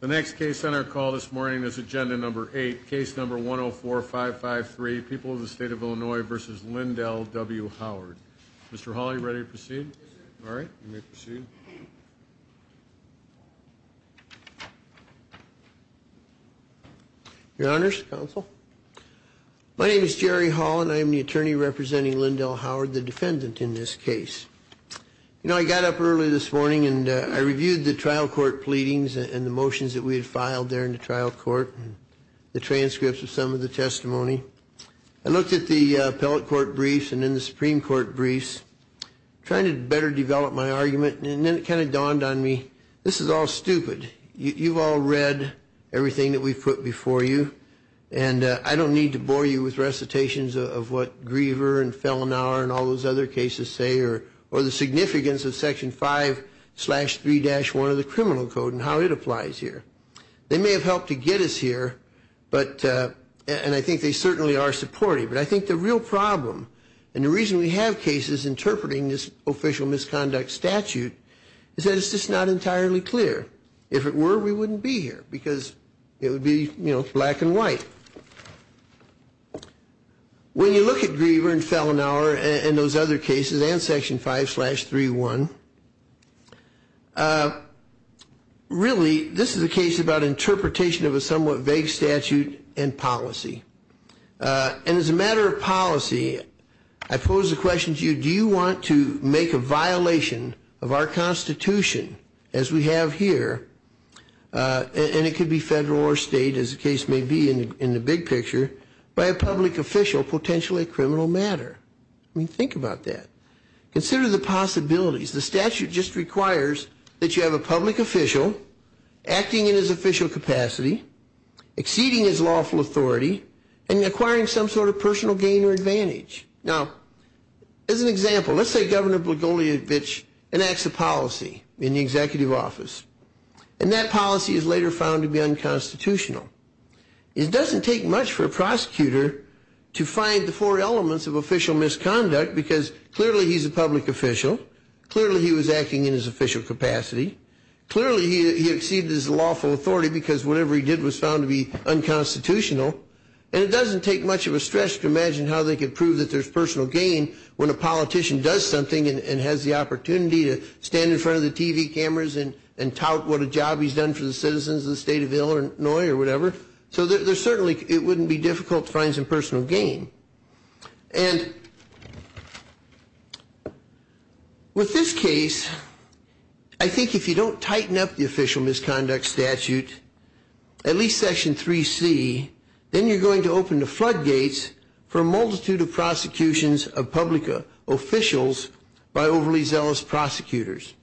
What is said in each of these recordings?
The next case on our call this morning is Agenda Number 8, Case Number 104-553, People of the State of Illinois v. Lindell W. Howard. Mr. Hall, are you ready to proceed? Yes, sir. All right, you may proceed. Your Honors, Counsel, my name is Jerry Hall, and I am the attorney representing Lindell Howard, the defendant in this case. You know, I got up early this morning and I reviewed the trial court pleadings and the motions that we had filed there in the trial court, the transcripts of some of the testimony. I looked at the appellate court briefs and then the Supreme Court briefs, trying to better develop my argument, and then it kind of dawned on me, this is all stupid. You've all read everything that we've put before you, and I don't need to bore you with recitations of what Griever and Fellenauer and all those other cases say, or the significance of Section 5-3-1 of the Criminal Code and how it applies here. They may have helped to get us here, and I think they certainly are supportive, but I think the real problem and the reason we have cases interpreting this as an unofficial misconduct statute is that it's just not entirely clear. If it were, we wouldn't be here, because it would be, you know, black and white. When you look at Griever and Fellenauer and those other cases and Section 5-3-1, really, this is a case about interpretation of a somewhat vague statute and policy. And as a matter of policy, I pose the question to you, do you want to make a violation of our Constitution, as we have here, and it could be federal or state, as the case may be in the big picture, by a public official, potentially a criminal matter? I mean, think about that. Consider the possibilities. The statute just requires that you have a public official acting in his official capacity, exceeding his lawful authority, and acquiring some sort of personal gain or advantage. Now, as an example, let's say Governor Blagojevich enacts a policy in the executive office, and that policy is later found to be unconstitutional. It doesn't take much for a prosecutor to find the four elements of official misconduct, because clearly he's a public official, clearly he was acting in his official capacity, clearly he exceeded his lawful authority because whatever he did was found to be unconstitutional, and it doesn't take much of a stretch to imagine how they could prove that there's personal gain when a politician does something and has the opportunity to stand in front of the TV cameras and tout what a job he's done for the citizens of the state of Illinois or whatever. So certainly it wouldn't be difficult to find some personal gain. And with this case, I think if you don't tighten up the official misconduct statute, at least Section 3C, then you're going to open the floodgates for a multitude of prosecutions of public officials by overly zealous prosecutors.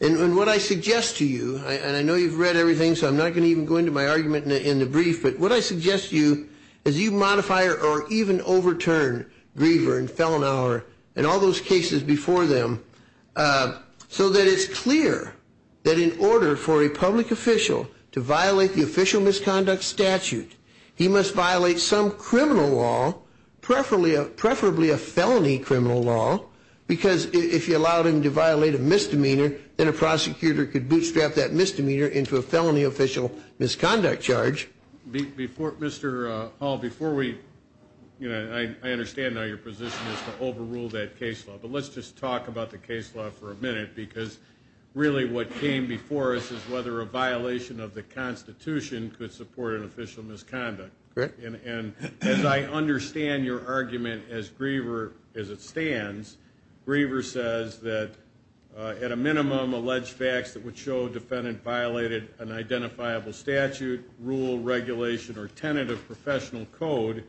And what I suggest to you, and I know you've read everything, so I'm not going to even go into my argument in the brief, but what I suggest to you is you modify or even overturn Griever and Fellenhauer and all those cases before them so that it's clear that in order for a public official to violate the official misconduct statute, he must violate some criminal law, preferably a felony criminal law, because if you allowed him to violate a misdemeanor, then a prosecutor could bootstrap that misdemeanor into a felony official misconduct charge. Before, Mr. Hall, before we, you know, I understand now your position is to overrule that case law, but let's just talk about the case law for a minute because really what came before us is whether a violation of the Constitution could support an official misconduct. Correct. And as I understand your argument, as Griever, as it stands, Griever says that at a minimum, alleged facts that would show a defendant violated an identifiable statute, rule, regulation, or tentative professional code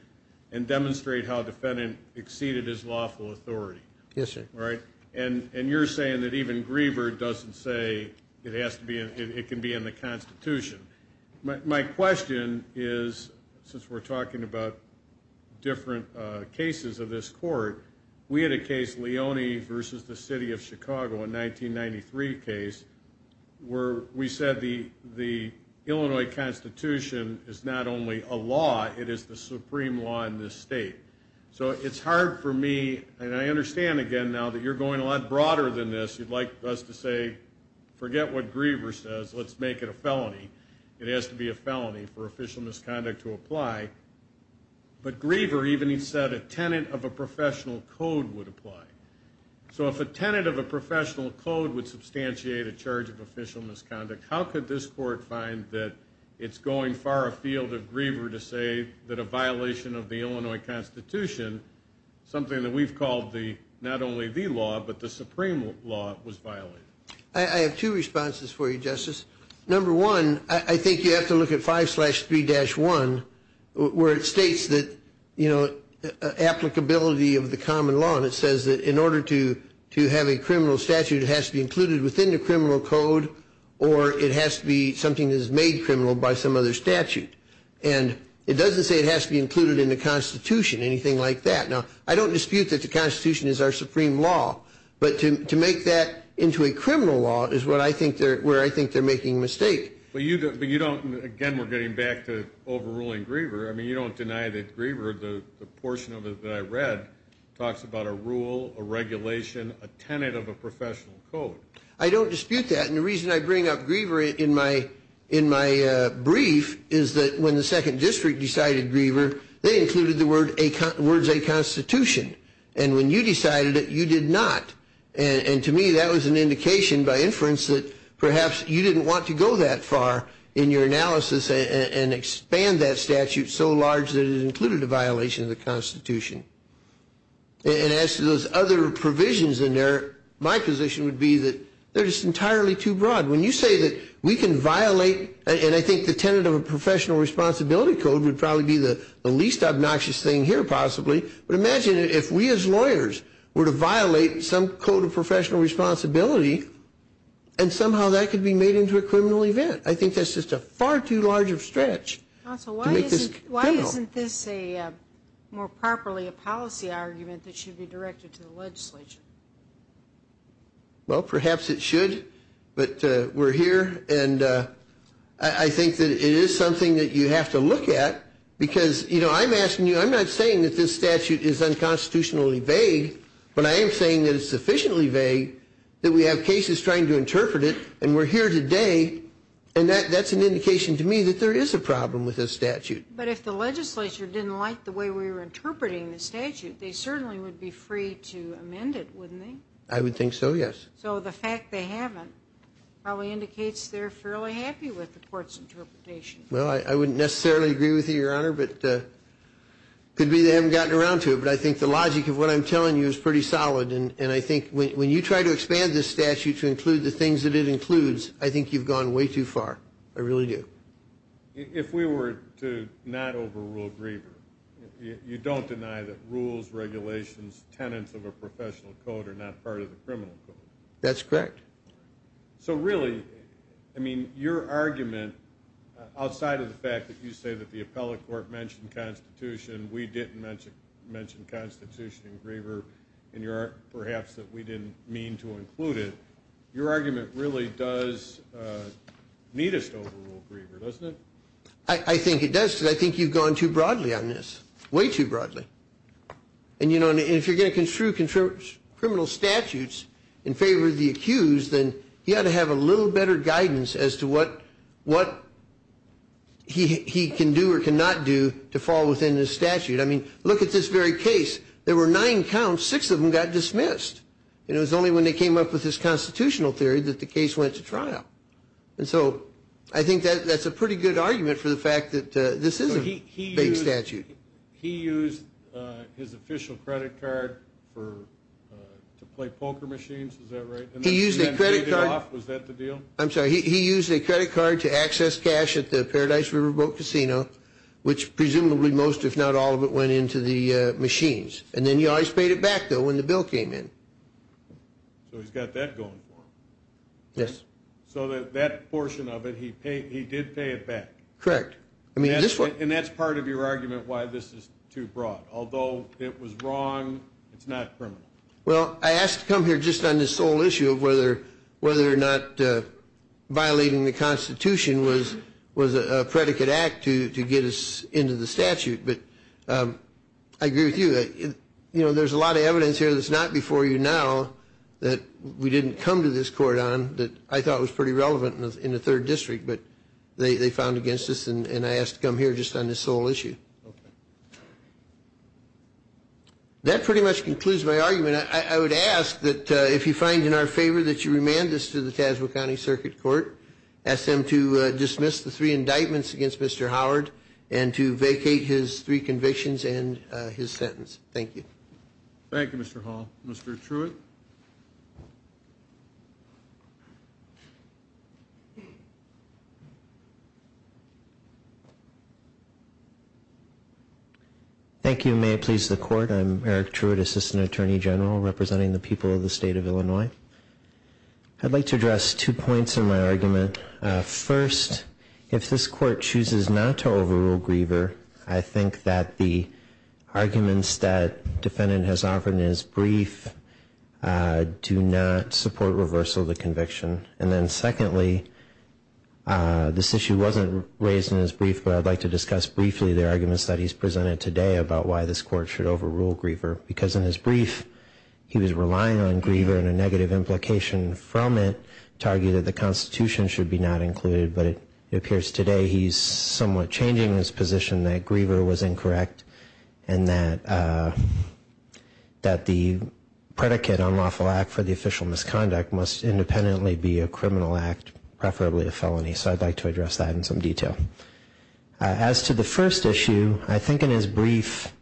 and demonstrate how a defendant exceeded his lawful authority. Yes, sir. Right? And you're saying that even Griever doesn't say it has to be, it can be in the Constitution. My question is, since we're talking about different cases of this court, we had a case, Leone versus the City of Chicago, a 1993 case, where we said the Illinois Constitution is not only a law, it is the supreme law in this state. So it's hard for me, and I understand again now that you're going a lot broader than this, you'd like us to say forget what Griever says, let's make it a felony. It has to be a felony for official misconduct to apply. But Griever even said a tenet of a professional code would apply. So if a tenet of a professional code would substantiate a charge of official misconduct, how could this court find that it's going far afield of Griever to say that a violation of the Illinois Constitution, something that we've called not only the law, but the supreme law, was violated? I have two responses for you, Justice. Number one, I think you have to look at 5-3-1, where it states that applicability of the common law, and it says that in order to have a criminal statute, it has to be included within the criminal code, or it has to be something that is made criminal by some other statute. And it doesn't say it has to be included in the Constitution, anything like that. Now, I don't dispute that the Constitution is our supreme law, but to make that into a criminal law is where I think they're making a mistake. But you don't, again, we're getting back to overruling Griever. I mean, you don't deny that Griever, the portion of it that I read, talks about a rule, a regulation, a tenet of a professional code. I don't dispute that. And the reason I bring up Griever in my brief is that when the Second District decided Griever, they included the words, a constitution. And when you decided it, you did not. And to me, that was an indication by inference that perhaps you didn't want to go that far in your analysis and expand that statute so large that it included a violation of the Constitution. And as to those other provisions in there, my position would be that they're just entirely too broad. When you say that we can violate, and I think the tenet of a professional responsibility code would probably be the least obnoxious thing here, possibly. But imagine if we as lawyers were to violate some code of professional responsibility and somehow that could be made into a criminal event. I think that's just a far too large of a stretch to make this criminal. Why isn't this more properly a policy argument that should be directed to the legislature? Well, perhaps it should, but we're here. And I think that it is something that you have to look at because, you know, I'm asking you, I'm not saying that this statute is unconstitutionally vague, but I am saying that it's sufficiently vague that we have cases trying to interpret it, and we're here today, and that's an indication to me that there is a problem with this statute. But if the legislature didn't like the way we were interpreting the statute, they certainly would be free to amend it, wouldn't they? I would think so, yes. So the fact they haven't probably indicates they're fairly happy with the court's interpretation. Well, I wouldn't necessarily agree with you, Your Honor, but it could be they haven't gotten around to it. But I think the logic of what I'm telling you is pretty solid, and I think when you try to expand this statute to include the things that it includes, I think you've gone way too far. I really do. If we were to not overrule Griever, you don't deny that rules, regulations, tenets of a professional code are not part of the criminal code? That's correct. So really, I mean, your argument, outside of the fact that you say that the appellate court mentioned Constitution, we didn't mention Constitution in Griever, and perhaps that we didn't mean to include it, your argument really does need us to overrule Griever, doesn't it? I think it does, because I think you've gone too broadly on this, way too broadly. And, you know, if you're going to construe criminal statutes in favor of the accused, then you ought to have a little better guidance as to what he can do or cannot do to fall within the statute. I mean, look at this very case. There were nine counts. Six of them got dismissed. And it was only when they came up with this constitutional theory that the case went to trial. And so I think that's a pretty good argument for the fact that this is a vague statute. He used his official credit card to play poker machines. Is that right? He used a credit card. Was that the deal? I'm sorry. He used a credit card to access cash at the Paradise River Boat Casino, which presumably most, if not all, of it went into the machines. And then he always paid it back, though, when the bill came in. So he's got that going for him. Yes. So that portion of it, he did pay it back. Correct. And that's part of your argument why this is too broad. Although it was wrong, it's not criminal. Well, I asked to come here just on this sole issue of whether or not violating the Constitution was a predicate act to get us into the statute. But I agree with you. You know, there's a lot of evidence here that's not before you now that we didn't come to this court on that I thought was pretty relevant in the 3rd District, but they found against us. And I asked to come here just on this sole issue. Okay. That pretty much concludes my argument. I would ask that if you find in our favor that you remand this to the Tasma County Circuit Court, ask them to dismiss the three indictments against Mr. Howard and to vacate his three convictions and his sentence. Thank you. Thank you, Mr. Hall. Mr. Truitt. Thank you. May it please the Court, I'm Eric Truitt, Assistant Attorney General, representing the people of the State of Illinois. I'd like to address two points in my argument. First, if this Court chooses not to overrule Griever, I think that the arguments that the defendant has offered in his brief do not support reversal of the conviction. And then secondly, this issue wasn't raised in his brief, but I'd like to discuss briefly the arguments that he's presented today about why this Court should overrule Griever, because in his brief he was relying on Griever and a negative implication from it to argue that the Constitution should be not included, but it appears today he's somewhat changing his position that Griever was incorrect and that the predicate on lawful act for the official misconduct must independently be a criminal act, preferably a felony. So I'd like to address that in some detail. As to the first issue, I think in his brief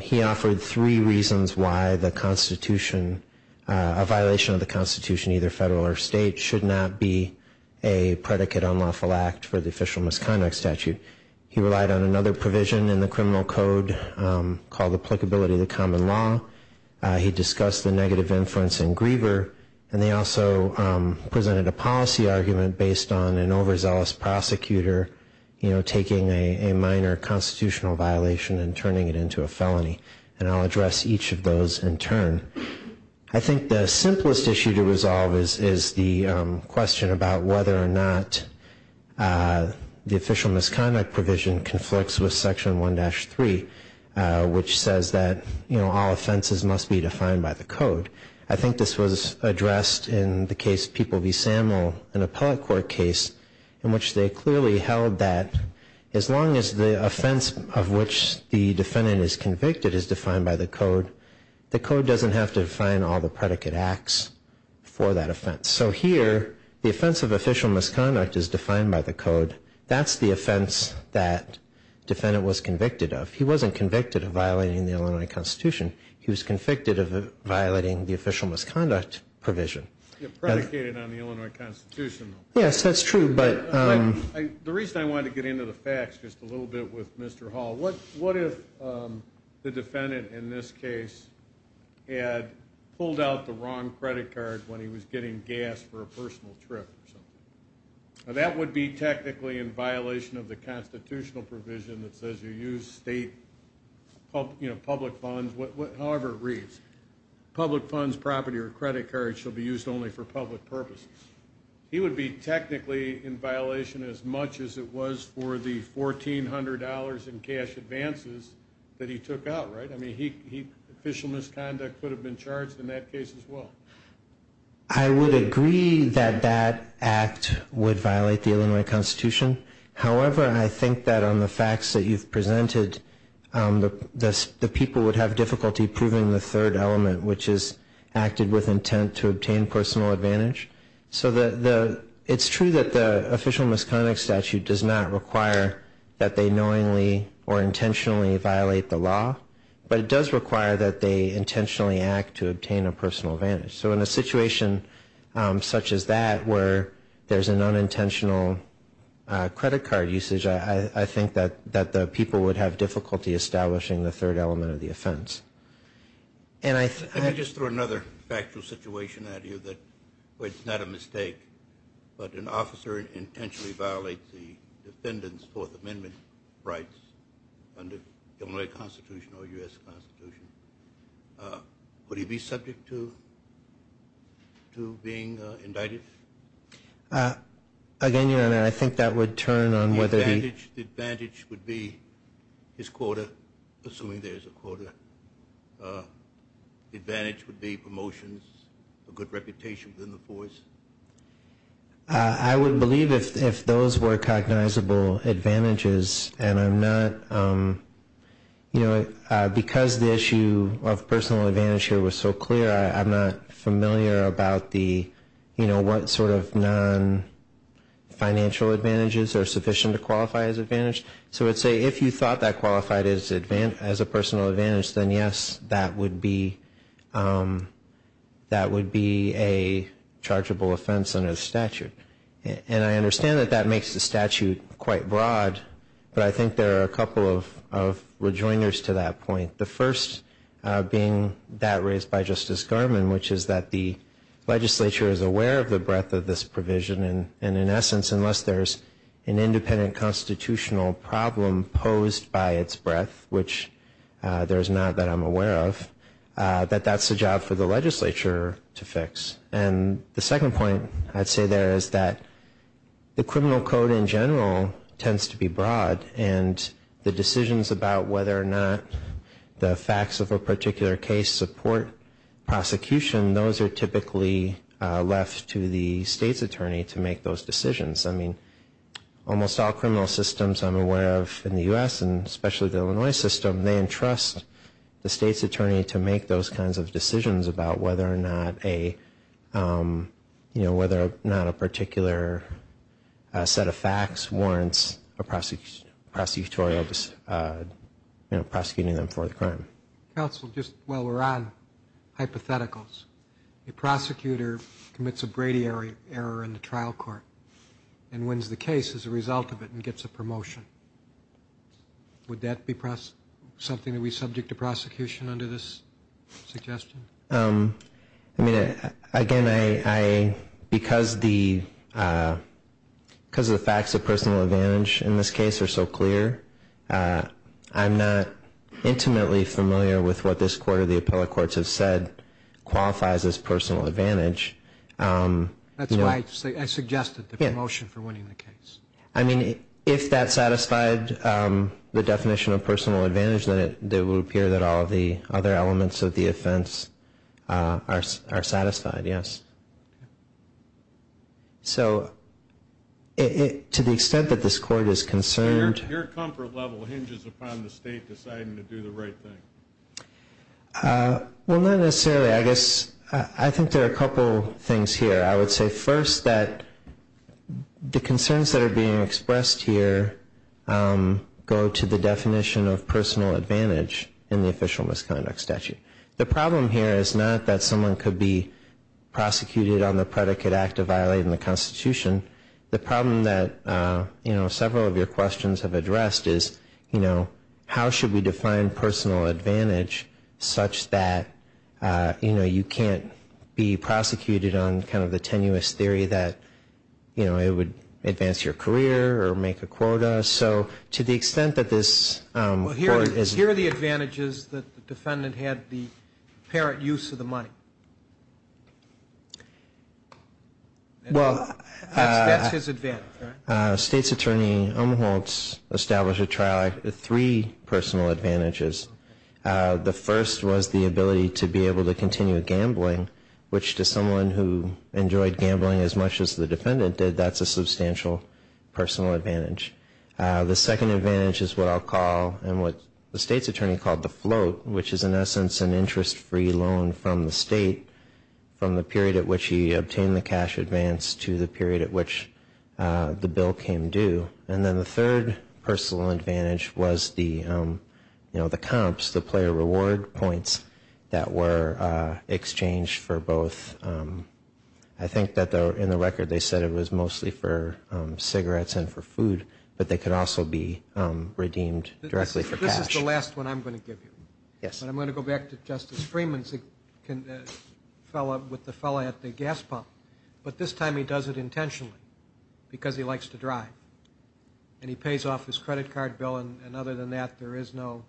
he offered three reasons why the Constitution, a violation of the Constitution, either federal or state, should not be a predicate on lawful act for the official misconduct statute. He relied on another provision in the criminal code called applicability of the common law. He discussed the negative inference in Griever, and they also presented a policy argument based on an overzealous prosecutor, you know, taking a minor constitutional violation and turning it into a felony. And I'll address each of those in turn. I think the simplest issue to resolve is the question about whether or not the official misconduct provision conflicts with Section 1-3, which says that, you know, all offenses must be defined by the code. I think this was addressed in the case People v. Samuel, an appellate court case, in which they clearly held that as long as the offense of which the defendant is convicted is defined by the code, the code doesn't have to define all the predicate acts for that offense. So here the offense of official misconduct is defined by the code. That's the offense that the defendant was convicted of. He wasn't convicted of violating the Illinois Constitution. He was convicted of violating the official misconduct provision. It predicated on the Illinois Constitution, though. Yes, that's true. The reason I wanted to get into the facts just a little bit with Mr. Hall, what if the defendant in this case had pulled out the wrong credit card when he was getting gas for a personal trip or something? Now, that would be technically in violation of the constitutional provision that says you use state, you know, public funds. However it reads, public funds, property, or credit cards shall be used only for public purposes. He would be technically in violation as much as it was for the $1,400 in cash advances that he took out, right? I mean, official misconduct could have been charged in that case as well. I would agree that that act would violate the Illinois Constitution. However, I think that on the facts that you've presented, the people would have difficulty proving the third element, which is acted with intent to obtain personal advantage. So it's true that the official misconduct statute does not require that they knowingly or intentionally violate the law, but it does require that they intentionally act to obtain a personal advantage. So in a situation such as that where there's an unintentional credit card usage, I think that the people would have difficulty establishing the third element of the offense. Let me just throw another factual situation at you that it's not a mistake, but an officer intentionally violates the defendant's Fourth Amendment rights under Illinois Constitution or U.S. Constitution. Would he be subject to being indicted? Again, Your Honor, I think that would turn on whether he... The advantage would be his quota, assuming there's a quota. The advantage would be promotions, a good reputation within the force. I would believe if those were cognizable advantages. And I'm not, you know, because the issue of personal advantage here was so clear, I'm not familiar about the, you know, what sort of non-financial advantages are sufficient to qualify as advantage. So I'd say if you thought that qualified as a personal advantage, then yes, that would be a chargeable offense under the statute. And I understand that that makes the statute quite broad, but I think there are a couple of rejoiners to that point. The first being that raised by Justice Garmon, which is that the legislature is aware of the breadth of this provision, and in essence, unless there's an independent constitutional problem posed by its breadth, which there is not that I'm aware of, that that's the job for the legislature to fix. And the second point I'd say there is that the criminal code in general tends to be broad, and the decisions about whether or not the facts of a particular case support prosecution, those are typically left to the state's attorney to make those decisions. I mean, almost all criminal systems I'm aware of in the U.S., and especially the Illinois system, they entrust the state's attorney to make those kinds of decisions about whether or not a, you know, whether or not a particular set of facts warrants a prosecutorial, you know, prosecuting them for the crime. Counsel, just while we're on hypotheticals, a prosecutor commits a Brady error in the trial court and wins the case as a result of it and gets a promotion. Would that be something that we subject to prosecution under this suggestion? I mean, again, because the facts of personal advantage in this case are so clear, I'm not intimately familiar with what this court or the appellate courts have said qualifies as personal advantage. That's why I suggested the promotion for winning the case. I mean, if that satisfied the definition of personal advantage, then it would appear that all of the other elements of the offense are satisfied, yes. So to the extent that this court is concerned Your comfort level hinges upon the state deciding to do the right thing. Well, not necessarily. I guess I think there are a couple things here. I would say first that the concerns that are being expressed here go to the definition of personal advantage in the official misconduct statute. The problem here is not that someone could be prosecuted on the predicate act of violating the Constitution. The problem that, you know, several of your questions have addressed is, you know, how should we define personal advantage such that, you know, you can't be prosecuted on kind of the tenuous theory that, you know, it would advance your career or make a quota. So to the extent that this court is Here are the advantages that the defendant had the apparent use of the money. Well, that's his advantage, right? State's attorney Umholtz established a trial act with three personal advantages. The first was the ability to be able to continue gambling, which to someone who enjoyed gambling as much as the defendant did, that's a substantial personal advantage. The second advantage is what I'll call and what the state's attorney called the float, which is in essence an interest-free loan from the state from the period at which he obtained the cash advance to the period at which the bill came due. And then the third personal advantage was the, you know, the comps, the player reward points that were exchanged for both. I think that in the record they said it was mostly for cigarettes and for food, but they could also be redeemed directly for cash. That's the last one I'm going to give you. Yes. But I'm going to go back to Justice Freeman's fellow with the fellow at the gas pump. But this time he does it intentionally because he likes to drive. And he pays off his credit card bill, and other than that, there is no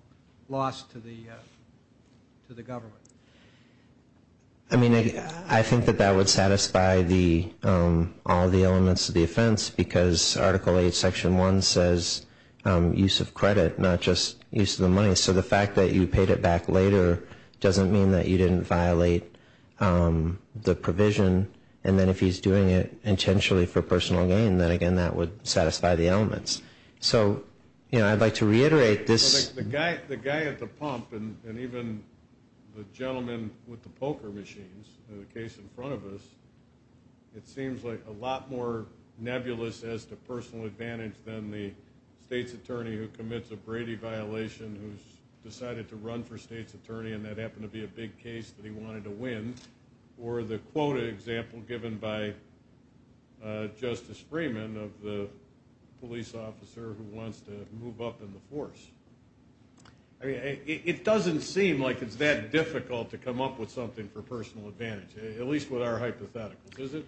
loss to the government. I mean, I think that that would satisfy all the elements of the offense because Article 8, Section 1 says use of credit, not just use of the money. So the fact that you paid it back later doesn't mean that you didn't violate the provision. And then if he's doing it intentionally for personal gain, then, again, that would satisfy the elements. So, you know, I'd like to reiterate this. The guy at the pump and even the gentleman with the poker machines, the case in front of us, it seems like a lot more nebulous as to personal advantage than the state's attorney who commits a Brady violation who's decided to run for state's attorney, and that happened to be a big case that he wanted to win, or the quota example given by Justice Freeman of the police officer who wants to move up in the force. I mean, it doesn't seem like it's that difficult to come up with something for personal advantage, at least with our hypotheticals, does it?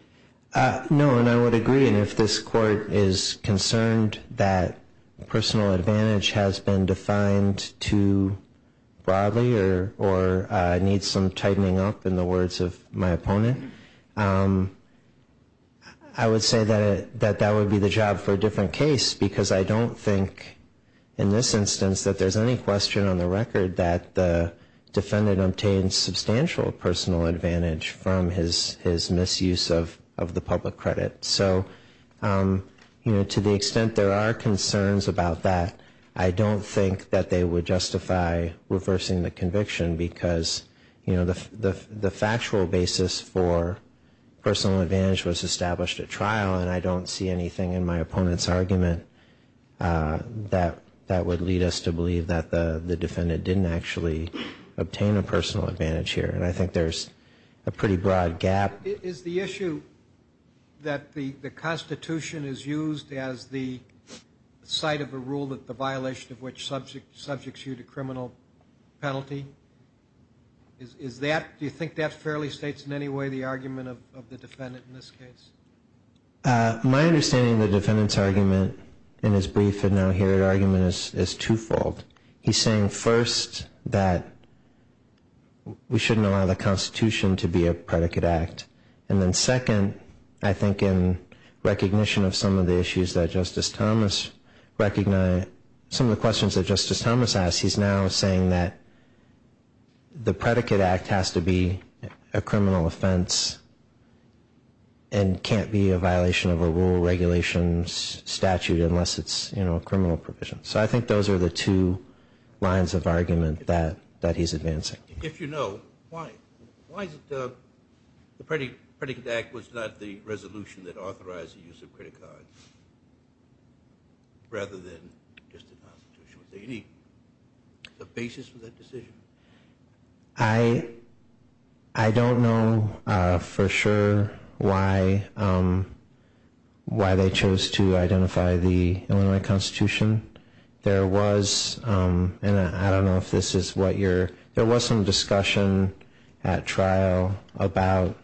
No, and I would agree. And if this court is concerned that personal advantage has been defined too broadly or needs some tightening up in the words of my opponent, I would say that that would be the job for a different case because I don't think in this instance that there's any question on the record that the defendant obtained substantial personal advantage from his misuse of the public credit. So, you know, to the extent there are concerns about that, I don't think that they would justify reversing the conviction because, you know, the factual basis for personal advantage was established at trial, and I don't see anything in my opponent's argument that would lead us to believe that the defendant didn't actually obtain a personal advantage here, and I think there's a pretty broad gap. Is the issue that the Constitution is used as the site of a rule that the violation of which subjects you to criminal penalty, do you think that fairly states in any way the argument of the defendant in this case? My understanding of the defendant's argument in his brief and now here argument is twofold. He's saying first that we shouldn't allow the Constitution to be a predicate act, and then second, I think in recognition of some of the issues that Justice Thomas recognized, some of the questions that Justice Thomas asked, he's now saying that the predicate act has to be a criminal offense and can't be a violation of a rule regulations statute unless it's, you know, a criminal provision. So I think those are the two lines of argument that he's advancing. If you know, why is it the predicate act was not the resolution that authorized the use of credit cards rather than just the Constitution? So you need a basis for that decision. I don't know for sure why they chose to identify the Illinois Constitution. There was, and I don't know if this is what you're, there was some discussion at trial about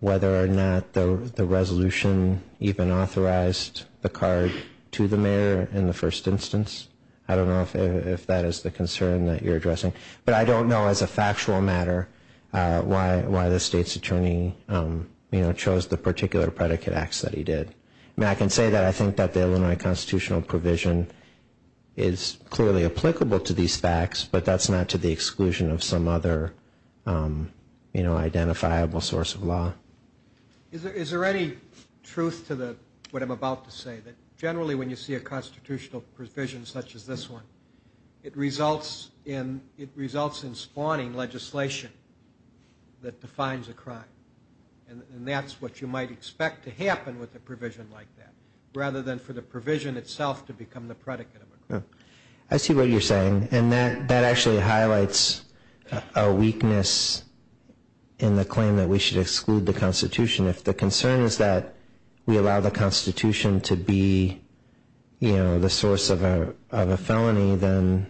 whether or not the resolution even authorized the card to the mayor in the first instance. I don't know if that is the concern that you're addressing. But I don't know as a factual matter why the state's attorney, you know, chose the particular predicate acts that he did. I mean, I can say that I think that the Illinois Constitutional provision is clearly applicable to these facts, but that's not to the exclusion of some other, you know, identifiable source of law. Is there any truth to the, what I'm about to say, that generally when you see a constitutional provision such as this one, it results in spawning legislation that defines a crime. And that's what you might expect to happen with a provision like that rather than for the provision itself to become the predicate of a crime. I see what you're saying. And that actually highlights a weakness in the claim that we should exclude the Constitution. If the concern is that we allow the Constitution to be, you know, the source of a felony, then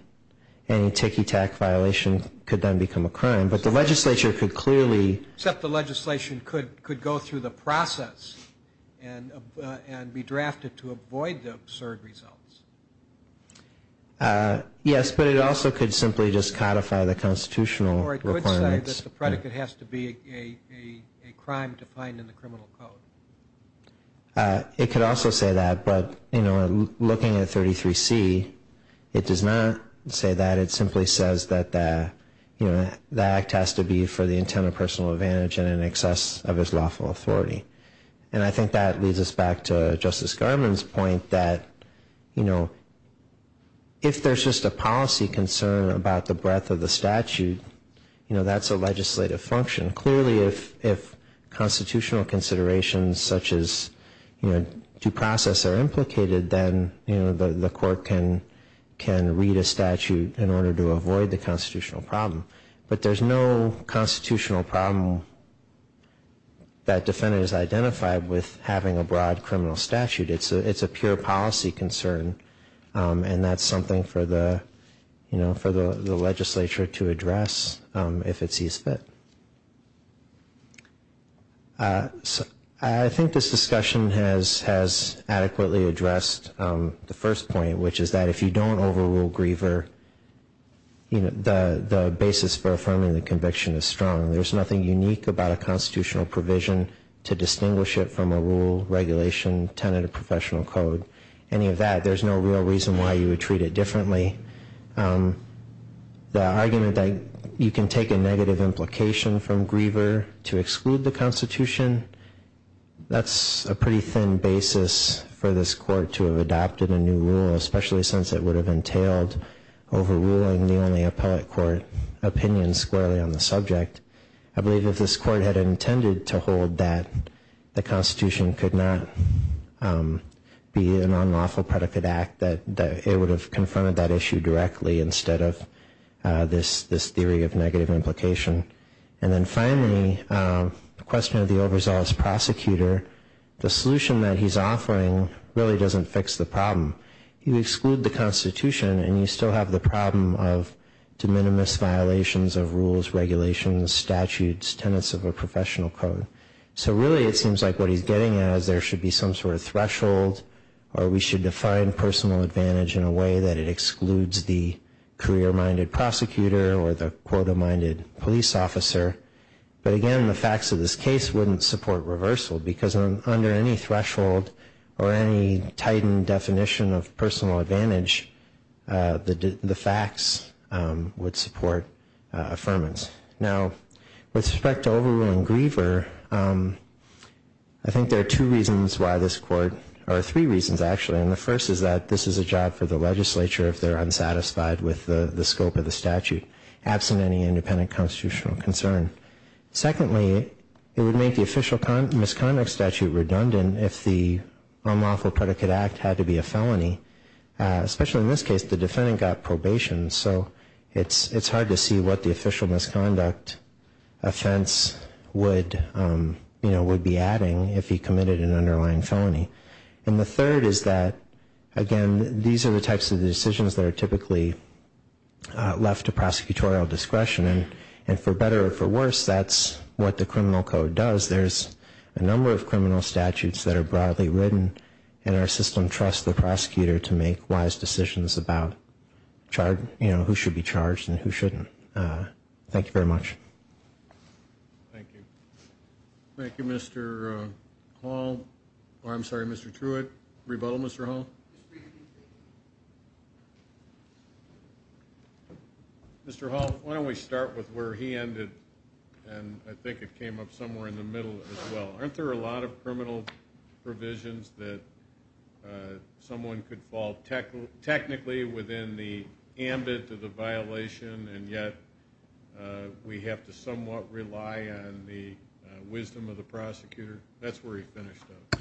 any ticky-tack violation could then become a crime. But the legislature could clearly Except the legislation could go through the process and be drafted to avoid the absurd results. Yes, but it also could simply just codify the constitutional requirements. Or it could say that the predicate has to be a crime defined in the criminal code. It could also say that, but, you know, looking at 33C, it does not say that. It simply says that the act has to be for the intent of personal advantage and in excess of his lawful authority. And I think that leads us back to Justice Garmon's point that, you know, if there's just a policy concern about the breadth of the statute, that's a legislative function. Clearly, if constitutional considerations such as due process are implicated, then the court can read a statute in order to avoid the constitutional problem. But there's no constitutional problem that defendants identify with having a broad criminal statute. It's a pure policy concern, and that's something for the legislature to address if it sees fit. I think this discussion has adequately addressed the first point, which is that if you don't overrule Griever, the basis for affirming the conviction is strong. There's nothing unique about a constitutional provision to distinguish it from a rule, regulation, tenet of professional code, any of that. There's no real reason why you would treat it differently. The argument that you can take a negative implication from Griever to exclude the Constitution, that's a pretty thin basis for this court to have adopted a new rule, especially since it would have entailed overruling the only appellate court opinion squarely on the subject. I believe if this court had intended to hold that the Constitution could not be an unlawful predicate act, that it would have confirmed that issue directly instead of this theory of negative implication. And then finally, the question of the overzealous prosecutor, the solution that he's offering really doesn't fix the problem. You exclude the Constitution and you still have the problem of de minimis violations of rules, regulations, statutes, tenets of a professional code. So really it seems like what he's getting at is there should be some sort of threshold or we should define personal advantage in a way that it excludes the career-minded prosecutor or the quota-minded police officer. But again, the facts of this case wouldn't support reversal because under any threshold or any tightened definition of personal advantage, the facts would support affirmance. Now, with respect to overruling Griever, I think there are two reasons why this court, or three reasons actually, and the first is that this is a job for the legislature if they're unsatisfied with the scope of the statute, absent any independent constitutional concern. Secondly, it would make the official misconduct statute redundant if the unlawful predicate act had to be a felony, especially in this case. The defendant got probation, so it's hard to see what the official misconduct offense would be adding if he committed an underlying felony. And the third is that, again, these are the types of decisions that are typically left to prosecutorial discretion. And for better or for worse, that's what the criminal code does. There's a number of criminal statutes that are broadly written, and our system trusts the prosecutor to make wise decisions about who should be charged and who shouldn't. Thank you very much. Thank you. Thank you, Mr. Hall. I'm sorry, Mr. Truitt. Rebuttal, Mr. Hall? Mr. Hall, why don't we start with where he ended, and I think it came up somewhere in the middle as well. Aren't there a lot of criminal provisions that someone could fall technically within the ambit of the violation and yet we have to somewhat rely on the wisdom of the prosecutor? That's where he finished up.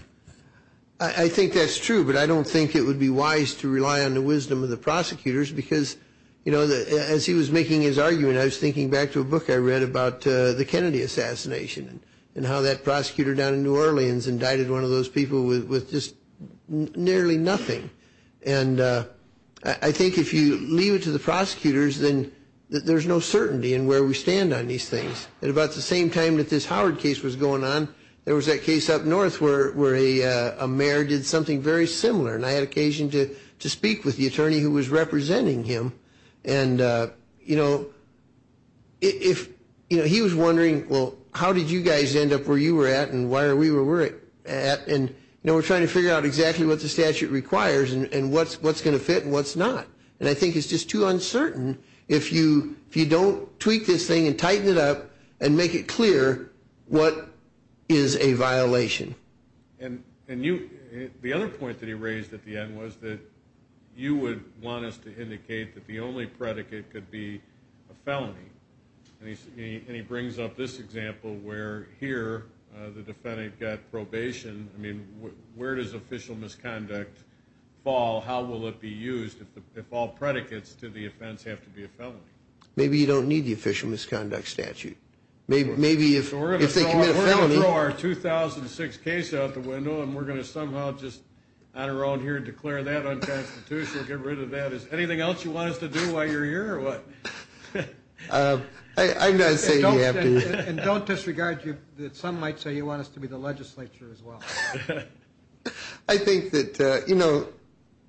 I think that's true, but I don't think it would be wise to rely on the wisdom of the prosecutors because, you know, as he was making his argument, I was thinking back to a book I read about the Kennedy assassination and how that prosecutor down in New Orleans indicted one of those people with just nearly nothing. And I think if you leave it to the prosecutors, then there's no certainty in where we stand on these things. At about the same time that this Howard case was going on, there was that case up north where a mayor did something very similar, and I had occasion to speak with the attorney who was representing him. And, you know, he was wondering, well, how did you guys end up where you were at and why are we where we're at? And, you know, we're trying to figure out exactly what the statute requires and what's going to fit and what's not. And I think it's just too uncertain if you don't tweak this thing and tighten it up and make it clear what is a violation. And the other point that he raised at the end was that you would want us to indicate that the only predicate could be a felony. And he brings up this example where here the defendant got probation. I mean, where does official misconduct fall? How will it be used if all predicates to the offense have to be a felony? Maybe you don't need the official misconduct statute. Maybe if they commit a felony. We're going to throw our 2006 case out the window and we're going to somehow just on our own here declare that unconstitutional, get rid of that. Is there anything else you want us to do while you're here or what? I'm not saying you have to. And don't disregard that some might say you want us to be the legislature as well. I think that, you know,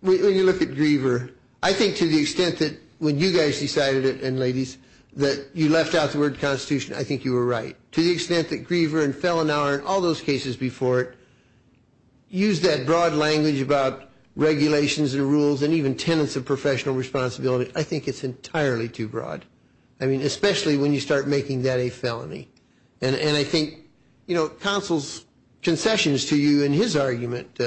when you look at Griever, I think to the extent that when you guys decided it, and ladies, that you left out the word constitution, I think you were right. To the extent that Griever and Fellenauer and all those cases before it used that broad language about regulations and rules and even tenets of professional responsibility, I think it's entirely too broad. I mean, especially when you start making that a felony. And I think, you know, counsel's concessions to you in his argument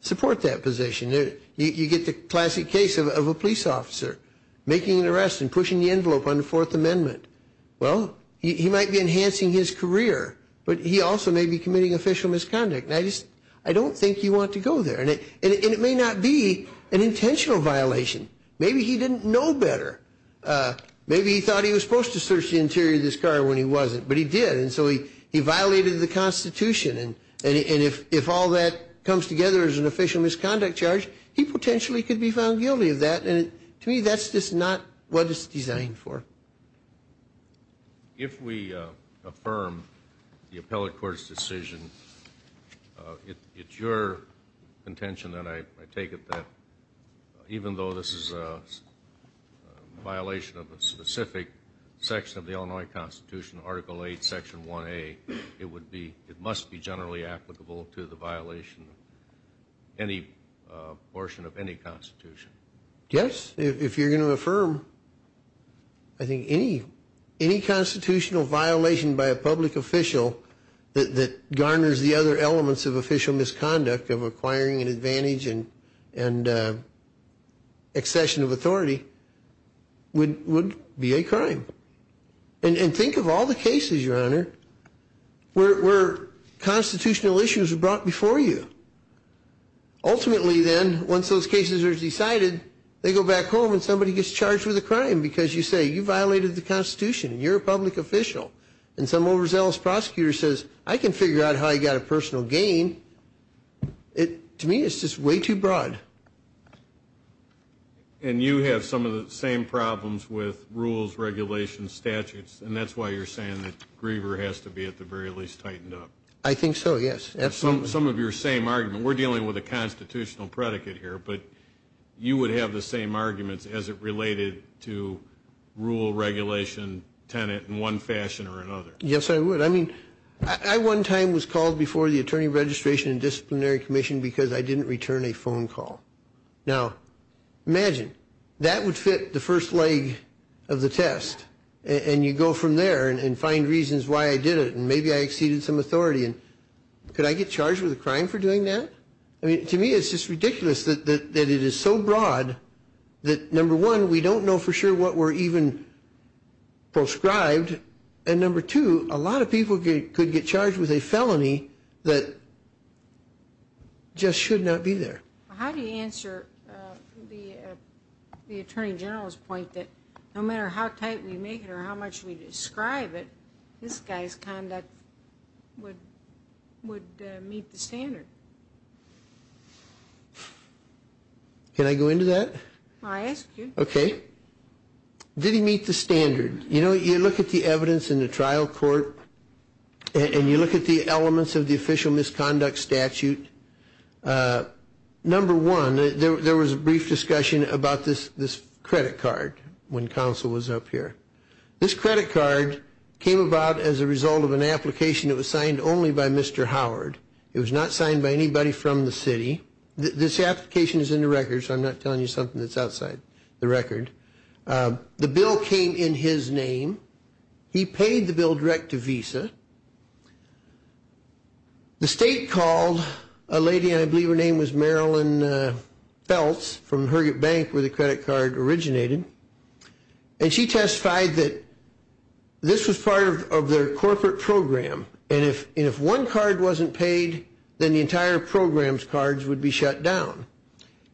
support that position. You get the classic case of a police officer making an arrest and pushing the envelope on the Fourth Amendment. Well, he might be enhancing his career, but he also may be committing official misconduct. And I don't think you want to go there. And it may not be an intentional violation. Maybe he didn't know better. Maybe he thought he was supposed to search the interior of this car when he wasn't, but he did. And so he violated the Constitution. And if all that comes together as an official misconduct charge, he potentially could be found guilty of that. And to me, that's just not what it's designed for. If we affirm the appellate court's decision, it's your intention that I take it that even though this is a violation of a specific section of the Illinois Constitution, Article 8, Section 1A, it must be generally applicable to the violation of any portion of any Constitution. Yes, if you're going to affirm, I think any constitutional violation by a public official that garners the other elements of official misconduct, of acquiring an advantage and accession of authority, would be a crime. And think of all the cases, Your Honor, where constitutional issues were brought before you. Ultimately then, once those cases are decided, they go back home and somebody gets charged with a crime because you say you violated the Constitution and you're a public official. And some overzealous prosecutor says, I can figure out how he got a personal gain. To me, it's just way too broad. And you have some of the same problems with rules, regulations, statutes, and that's why you're saying that Griever has to be at the very least tightened up. I think so, yes. Some of your same argument. We're dealing with a constitutional predicate here, but you would have the same arguments as it related to rule, regulation, tenant in one fashion or another. Yes, I would. I mean, I one time was called before the Attorney Registration and Disciplinary Commission because I didn't return a phone call. Now, imagine, that would fit the first leg of the test. And you go from there and find reasons why I did it and maybe I exceeded some authority. And could I get charged with a crime for doing that? I mean, to me, it's just ridiculous that it is so broad that, number one, we don't know for sure what we're even proscribed. And number two, a lot of people could get charged with a felony that just should not be there. How do you answer the Attorney General's point that no matter how tight we make it or how much we describe it, this guy's conduct would meet the standard? Can I go into that? I ask you. Okay. Did he meet the standard? You know, you look at the evidence in the trial court and you look at the elements of the official misconduct statute, number one, there was a brief discussion about this credit card when counsel was up here. This credit card came about as a result of an application that was signed only by Mr. Howard. It was not signed by anybody from the city. This application is in the record, so I'm not telling you something that's outside the record. The bill came in his name. He paid the bill direct to Visa. The state called a lady, I believe her name was Marilyn Feltz, from Heriot Bank where the credit card originated. And she testified that this was part of their corporate program, and if one card wasn't paid, then the entire program's cards would be shut down.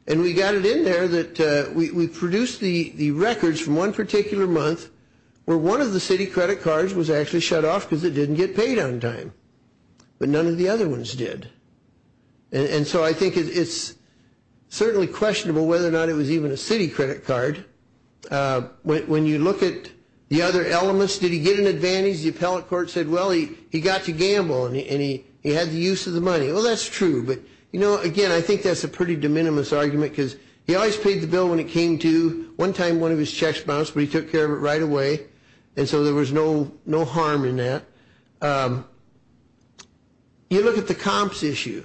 And we got it in there that we produced the records from one particular month where one of the city credit cards was actually shut off because it didn't get paid on time, but none of the other ones did. And so I think it's certainly questionable whether or not it was even a city credit card. When you look at the other elements, did he get an advantage? The appellate court said, well, he got to gamble and he had the use of the money. Well, that's true. But, you know, again, I think that's a pretty de minimis argument because he always paid the bill when it came to. One time one of his checks bounced, but he took care of it right away. And so there was no harm in that. You look at the comps issue.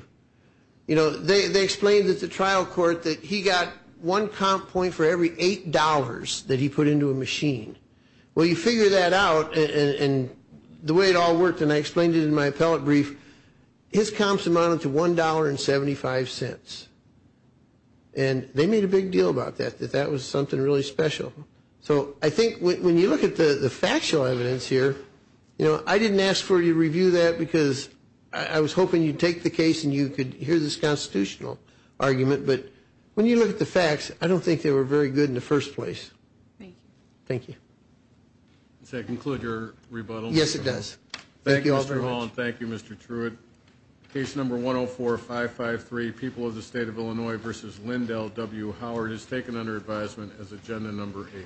They explained at the trial court that he got one comp point for every $8 that he put into a machine. Well, you figure that out, and the way it all worked, and I explained it in my appellate brief, his comps amounted to $1.75. And they made a big deal about that, that that was something really special. So I think when you look at the factual evidence here, you know, I didn't ask for you to review that because I was hoping you'd take the case and you could hear this constitutional argument. But when you look at the facts, I don't think they were very good in the first place. Thank you. Thank you. Does that conclude your rebuttal? Yes, it does. Thank you all very much. Thank you, Mr. Truitt. Case No. 104553, People of the State of Illinois v. Lindell W. Howard, is taken under advisement as Agenda No. 8.